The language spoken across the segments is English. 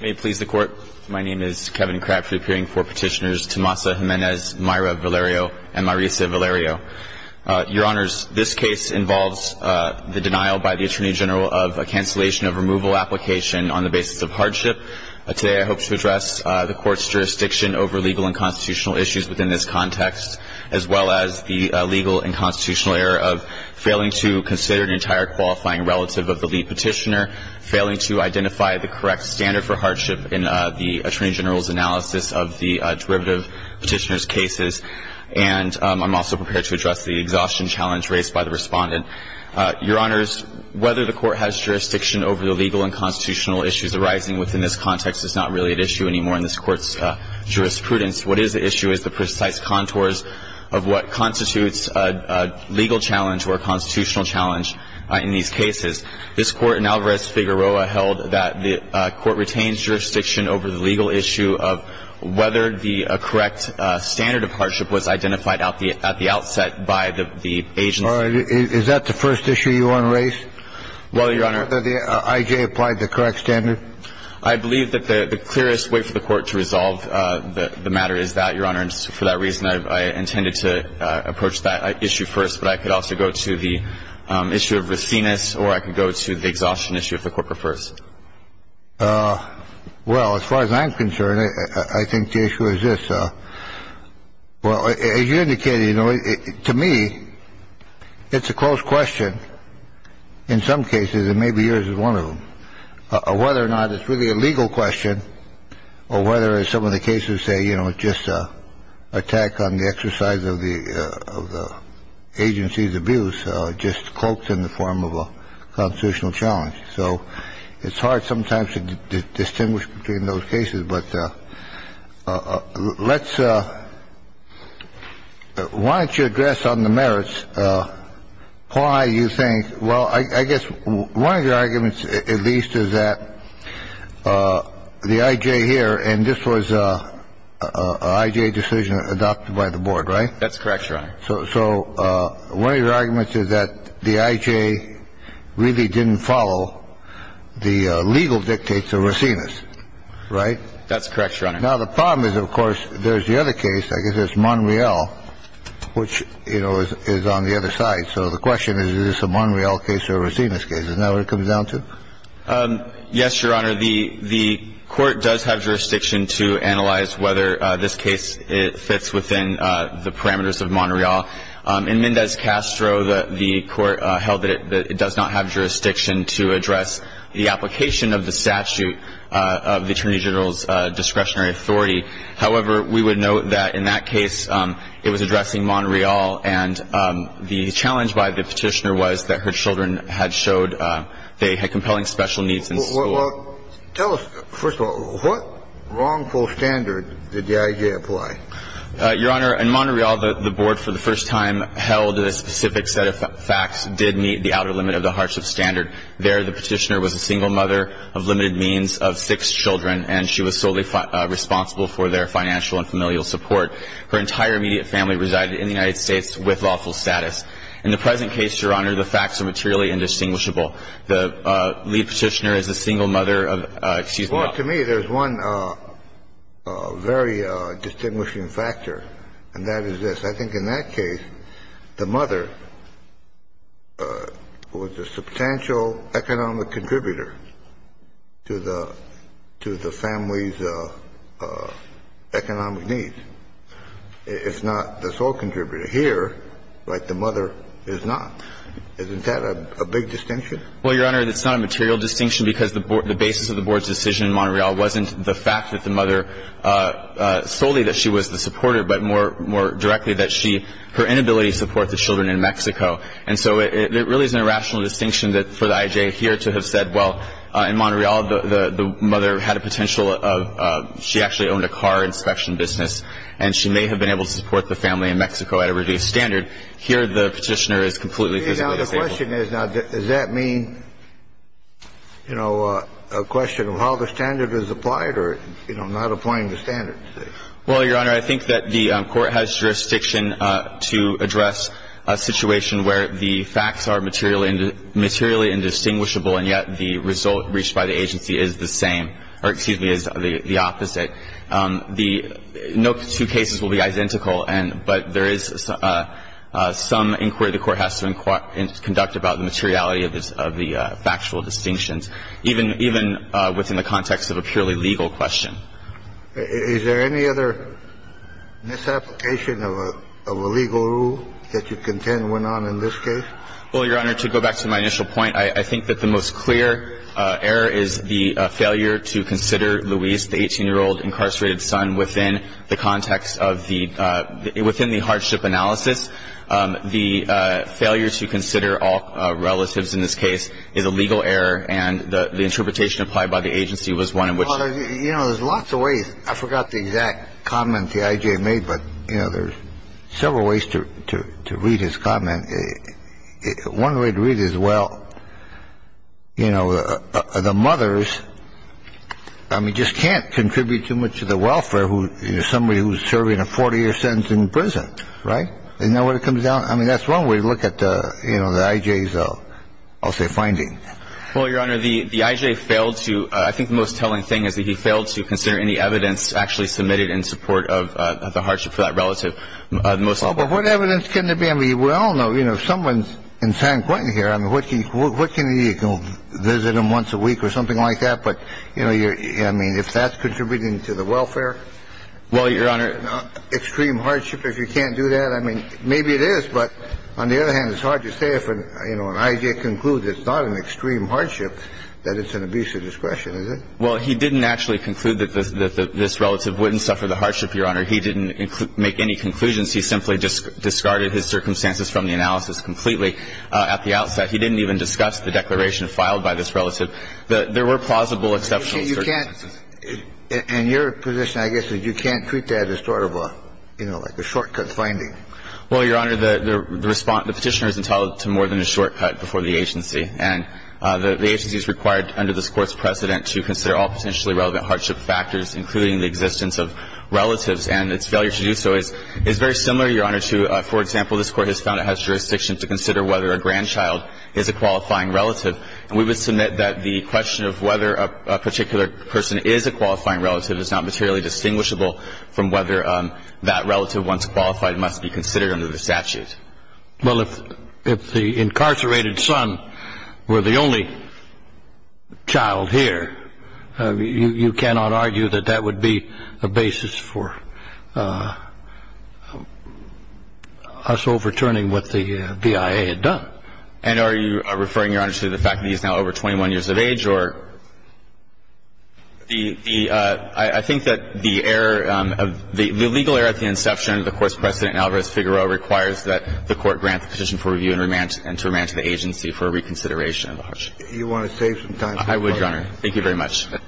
May it please the court, my name is Kevin Crabtree, appearing for petitioners Tomasa Jimenez, Mayra Valerio, and Marisa Valerio. Your honors, this case involves the denial by the attorney general of a cancellation of removal application on the basis of hardship. Today I hope to address the court's jurisdiction over legal and constitutional issues within this context, as well as the legal and constitutional error of failing to consider an entire qualifying relative of the lead petitioner, failing to identify the correct standard for hardship in the attorney general's analysis of the derivative petitioner's cases. And I'm also prepared to address the exhaustion challenge raised by the respondent. Your honors, whether the court has jurisdiction over the legal and constitutional issues arising within this context is not really at issue anymore in this court's jurisprudence. What is at issue is the precise contours of what constitutes a legal challenge or a constitutional challenge in these cases. This court in Alvarez-Figueroa held that the court retains jurisdiction over the legal issue of whether the correct standard of hardship was identified at the outset by the agency. Is that the first issue you want to raise? Well, your honor. Whether the I.J. applied the correct standard? I believe that the clearest way for the court to resolve the matter is that, your honors. For that reason, I intended to approach that issue first. But I could also go to the issue of riskiness, or I could go to the exhaustion issue if the court prefers. Well, as far as I'm concerned, I think the issue is this. Well, as you indicated, you know, to me, it's a close question. In some cases, it may be yours is one of them. Whether or not it's really a legal question or whether some of the cases say, you know, just attack on the exercise of the of the agency's abuse, just cloaked in the form of a constitutional challenge. So it's hard sometimes to distinguish between those cases. But let's. Why don't you address on the merits? Why do you think? Well, I guess one of your arguments, at least, is that the I.J. here and this was a decision adopted by the board. Right. That's correct. So one of your arguments is that the I.J. really didn't follow the legal dictates of Racine's. Right. That's correct. Now, the problem is, of course, there's the other case, I guess, is Monreal, which, you know, is on the other side. So the question is, is this a Monreal case or Racine's case? Is that what it comes down to? Yes, Your Honor. The the court does have jurisdiction to analyze whether this case fits within the parameters of Monreal. In Mendez Castro, the court held that it does not have jurisdiction to address the application of the statute of the attorney general's discretionary authority. However, we would note that in that case it was addressing Monreal. And the challenge by the petitioner was that her children had showed they had compelling special needs in school. Tell us, first of all, what wrongful standard did the I.J. apply? Your Honor, in Monreal, the board for the first time held a specific set of facts did meet the outer limit of the hardship standard. There, the petitioner was a single mother of limited means of six children, and she was solely responsible for their financial and familial support. Her entire immediate family resided in the United States with lawful status. In the present case, Your Honor, the facts are materially indistinguishable. The lead petitioner is a single mother of ‑‑ Well, to me, there's one very distinguishing factor, and that is this. I think in that case, the mother was a substantial economic contributor to the family's economic needs. It's not the sole contributor. Here, like the mother, is not. Isn't that a big distinction? Well, Your Honor, it's not a material distinction because the basis of the board's decision in Monreal wasn't the fact that the mother solely that she was the supporter, but more directly that her inability to support the children in Mexico. And so it really is an irrational distinction for the IJ here to have said, well, in Monreal, the mother had a potential of ‑‑ she actually owned a car inspection business, and she may have been able to support the family in Mexico at a reduced standard. Here, the petitioner is completely physically disabled. Now, the question is, now, does that mean, you know, a question of how the standard is applied or, you know, not applying the standard? Well, Your Honor, I think that the court has jurisdiction to address a situation where the facts are materially indistinguishable, and yet the result reached by the agency is the same ‑‑ or, excuse me, is the opposite. No two cases will be identical, but there is some inquiry the court has to inquire and conduct about the materiality of the factual distinctions, even within the context of a purely legal question. Is there any other misapplication of a legal rule that you contend went on in this case? Well, Your Honor, to go back to my initial point, I think that the most clear error is the failure to consider Luis, the 18‑year‑old incarcerated son, within the context of the ‑‑ within the hardship analysis. The failure to consider all relatives in this case is a legal error, and the interpretation applied by the agency was one in which ‑‑ Well, Your Honor, you know, there's lots of ways. I forgot the exact comment the I.J. made, but, you know, there's several ways to read his comment. One way to read it is, well, you know, the mothers, I mean, just can't contribute too much to the welfare of somebody who's serving a 40‑year sentence in prison, right? Isn't that what it comes down to? I mean, that's one way to look at, you know, the I.J.'s, I'll say, finding. Well, Your Honor, the I.J. failed to ‑‑ I think the most telling thing is that he failed to consider any evidence actually submitted in support of the hardship for that relative. But what evidence can there be? I mean, we all know, you know, if someone's in San Quentin here, I mean, what can you do? You can visit them once a week or something like that, but, you know, I mean, if that's contributing to the welfare? Well, Your Honor, extreme hardship, if you can't do that, I mean, maybe it is, but on the other hand, it's hard to say if, you know, an I.J. concludes it's not an extreme hardship that it's an abuse of discretion, is it? Well, he didn't actually conclude that this relative wouldn't suffer the hardship, Your Honor. He didn't make any conclusions. He simply discarded his circumstances from the analysis completely at the outset. He didn't even discuss the declaration filed by this relative. There were plausible exceptional circumstances. And your position, I guess, is you can't treat that as sort of a, you know, like a shortcut finding. Well, Your Honor, the petitioner is entitled to more than a shortcut before the agency. And the agency is required under this Court's precedent to consider all potentially relevant hardship factors, including the existence of relatives. And its failure to do so is very similar, Your Honor, to, for example, this Court has found it has jurisdiction to consider whether a grandchild is a qualifying relative. And we would submit that the question of whether a particular person is a qualifying relative is not materially distinguishable from whether that relative, once qualified, must be considered under the statute. Well, if the incarcerated son were the only child here, you cannot argue that that would be a basis for us overturning what the BIA had done. And are you referring, Your Honor, to the fact that he is now over 21 years of age, or the – I think that the error of the legal error at the inception of the Court's precedent in Alvarez-Figueroa requires that the Court grant the petition for review and to remand to the agency for reconsideration of the hardship. You want to save some time? I would, Your Honor. Thank you very much. Ms. Grose.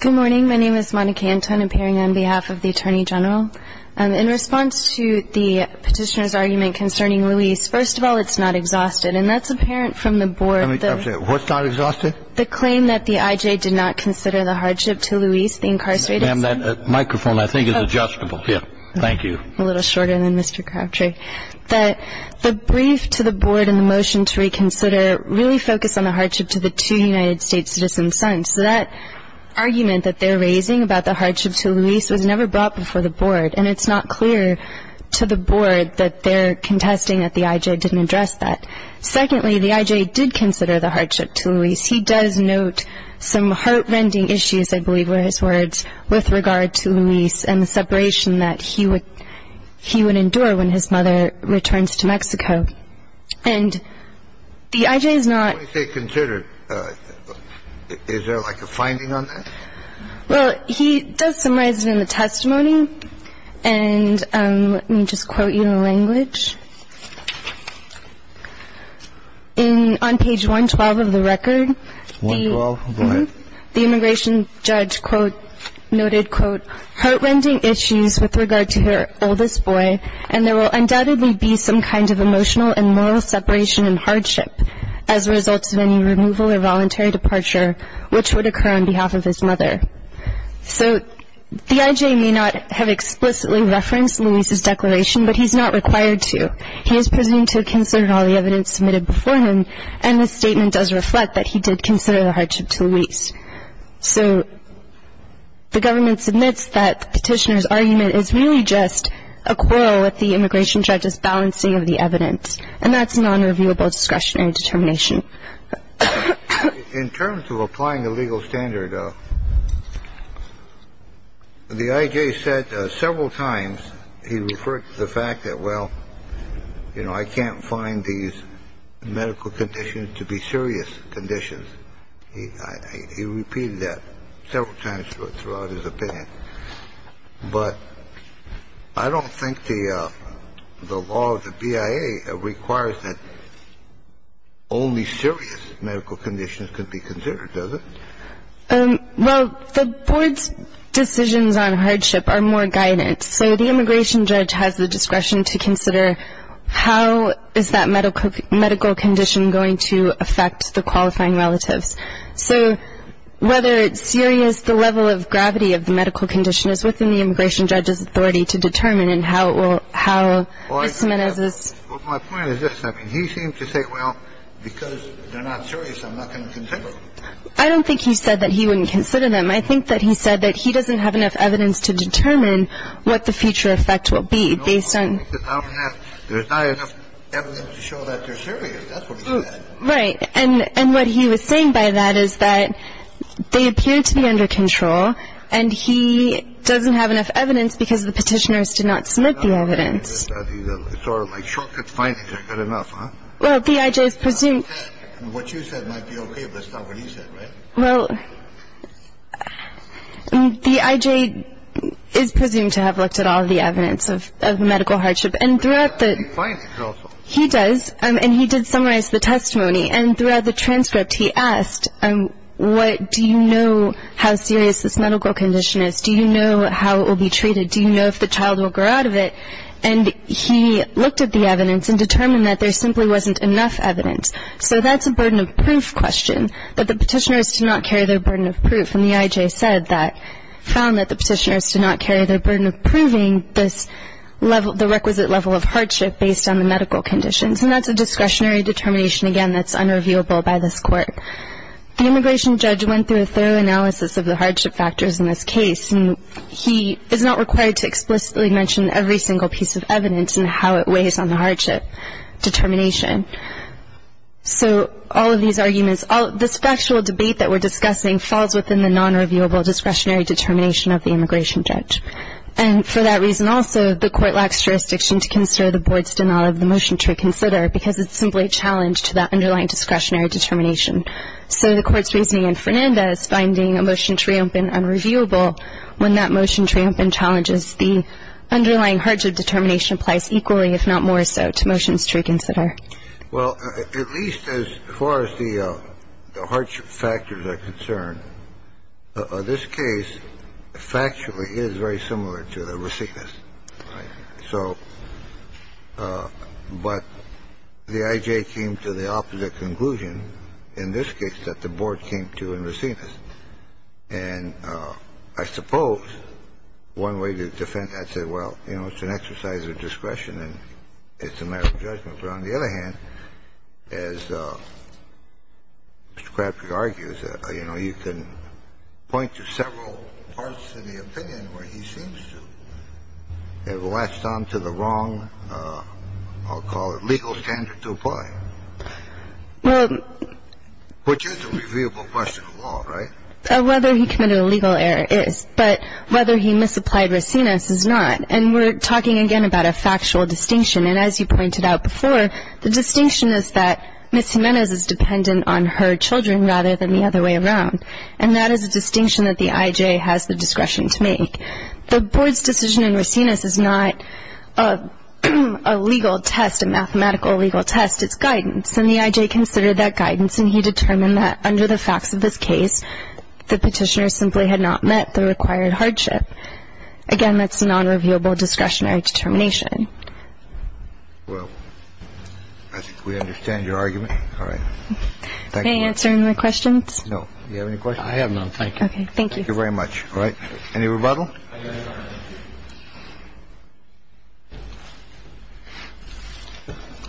Good morning. My name is Monica Anton, appearing on behalf of the Attorney General. In response to the petitioner's argument concerning Luis, first of all, it's not exhausted. And that's apparent from the board. What's not exhausted? The claim that the I.J. did not consider the hardship to Luis, the incarcerated son. Ma'am, that microphone, I think, is adjustable. Thank you. A little shorter than Mr. Crabtree. The brief to the board and the motion to reconsider really focus on the hardship to the two United States citizens' sons. So that argument that they're raising about the hardship to Luis was never brought before the board. And it's not clear to the board that they're contesting that the I.J. didn't address that. Secondly, the I.J. did consider the hardship to Luis. He does note some heart-rending issues, I believe were his words, with regard to Luis and the separation that he would endure when his mother returns to Mexico. And the I.J. is not -- When you say considered, is there like a finding on that? Well, he does summarize it in the testimony. And let me just quote you in a language. On page 112 of the record, the immigration judge noted, quote, heart-rending issues with regard to her oldest boy, and there will undoubtedly be some kind of emotional and moral separation and hardship as a result of any removal or voluntary departure, which would occur on behalf of his mother. So the I.J. may not have explicitly referenced Luis's declaration, but he's not required to. He is presumed to have considered all the evidence submitted before him, and the statement does reflect that he did consider the hardship to Luis. So the government submits that the petitioner's argument is really just a quarrel with the immigration judge's balancing of the evidence, and that's a nonreviewable discretionary determination. In terms of applying the legal standard, the I.J. said several times he referred to the fact that, well, you know, I can't find these medical conditions to be serious conditions. He repeated that several times throughout his opinion. But I don't think the law of the BIA requires that only serious medical conditions can be considered, does it? Well, the board's decisions on hardship are more guidance. So the immigration judge has the discretion to consider how is that medical condition going to affect the qualifying relatives. So whether it's serious, the level of gravity of the medical condition is within the immigration judge's authority to determine and how it will ‑‑ how Ms. Menezes ‑‑ Well, my point is this. I mean, he seemed to say, well, because they're not serious, I'm not going to consider them. I don't think he said that he wouldn't consider them. I think that he said that he doesn't have enough evidence to determine what the future effect will be based on ‑‑ I don't have ‑‑ there's not enough evidence to show that they're serious. That's what he said. Right. And what he was saying by that is that they appear to be under control, and he doesn't have enough evidence because the petitioners did not submit the evidence. It's sort of like short cut fines. You've got enough, huh? Well, the IJ is presumed ‑‑ What you said might be okay, but it's not what he said, right? Well, the IJ is presumed to have looked at all the evidence of medical hardship. And throughout the ‑‑ But the IJ finds it also. He does. And he did summarize the testimony. And throughout the transcript, he asked, do you know how serious this medical condition is? Do you know how it will be treated? Do you know if the child will grow out of it? And he looked at the evidence and determined that there simply wasn't enough evidence. So that's a burden of proof question, that the petitioners did not carry their burden of proof. And the IJ said that, found that the petitioners did not carry their burden of proving this level, the requisite level of hardship based on the medical conditions. And that's a discretionary determination, again, that's unreviewable by this court. The immigration judge went through a thorough analysis of the hardship factors in this case. And he is not required to explicitly mention every single piece of evidence and how it weighs on the hardship determination. So all of these arguments, this factual debate that we're discussing, falls within the nonreviewable discretionary determination of the immigration judge. And for that reason also, the court lacks jurisdiction to consider the board's denial of the motion to reconsider because it's simply a challenge to that underlying discretionary determination. So the court's reasoning in Fernanda is finding a motion to reopen unreviewable. When that motion to reopen challenges the underlying hardship determination applies equally, if not more so, to motions to reconsider. Well, at least as far as the hardship factors are concerned, this case factually is very similar to the Racines. So but the I.J. came to the opposite conclusion in this case that the board came to in Racines. And I suppose one way to defend that said, well, you know, it's an exercise of discretion But on the other hand, as Mr. Crabtree argues, you know, you can point to several parts of the opinion where he seems to have latched on to the wrong, I'll call it, legal standard to apply. Which is a reviewable question of law, right? Whether he committed a legal error is. But whether he misapplied Racines is not. And we're talking again about a factual distinction. And as you pointed out before, the distinction is that Ms. Jimenez is dependent on her children rather than the other way around. And that is a distinction that the I.J. has the discretion to make. The board's decision in Racines is not a legal test, a mathematical legal test. It's guidance. And the I.J. considered that guidance. And he determined that under the facts of this case, the petitioner simply had not met the required hardship. And that's a nonreviewable discretionary determination. Well, I think we understand your argument. All right. Thank you. May I answer any more questions? No. Do you have any questions? I have none. Thank you. Okay. Thank you. Thank you very much. All right. Any rebuttal?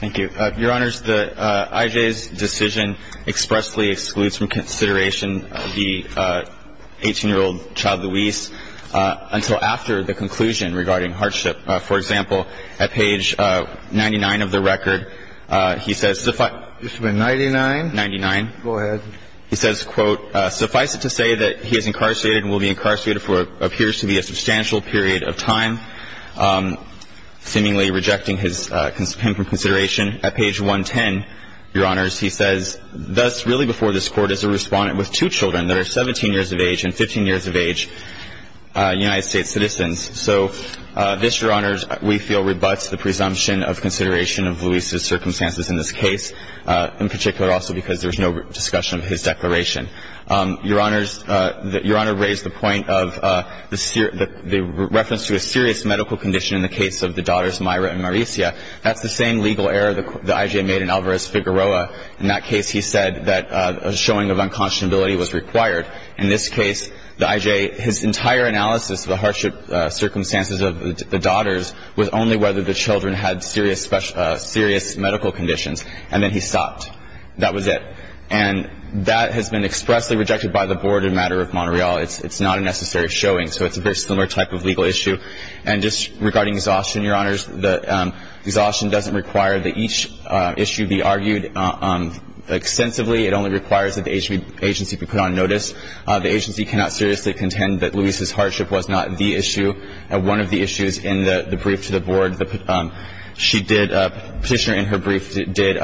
Thank you. Your Honors, the I.J.'s decision expressly excludes from consideration the 18-year-old child, Louise, until after the conclusion regarding hardship. For example, at page 99 of the record, he says suffice to say that he is incarcerated and will be incarcerated for what appears to be a substantial period of time, seemingly rejecting him from consideration. At page 110, Your Honors, he says, Thus, really before this Court is a respondent with two children that are 17 years of age and 15 years of age United States citizens. So this, Your Honors, we feel rebuts the presumption of consideration of Louise's circumstances in this case, in particular also because there's no discussion of his declaration. Your Honors, Your Honor raised the point of the reference to a serious medical condition in the case of the daughters Myra and Mauricia. That's the same legal error the I.J. made in Alvarez-Figueroa. In that case, he said that a showing of unconscionability was required. In this case, the I.J., his entire analysis of the hardship circumstances of the daughters was only whether the children had serious medical conditions, and then he stopped. That was it. And that has been expressly rejected by the Board in the matter of Montreal. It's not a necessary showing. So it's a very similar type of legal issue. And just regarding exhaustion, Your Honors, the exhaustion doesn't require that each issue be argued extensively. It only requires that the agency be put on notice. The agency cannot seriously contend that Louise's hardship was not the issue. One of the issues in the brief to the Board, she did, a petitioner in her brief, did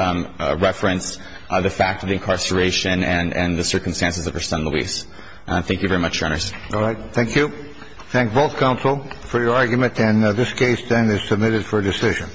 reference the fact of incarceration and the circumstances of her son, Louise. Thank you very much, Your Honors. All right. Thank you. Thank both counsel for your argument. And this case then is submitted for decision.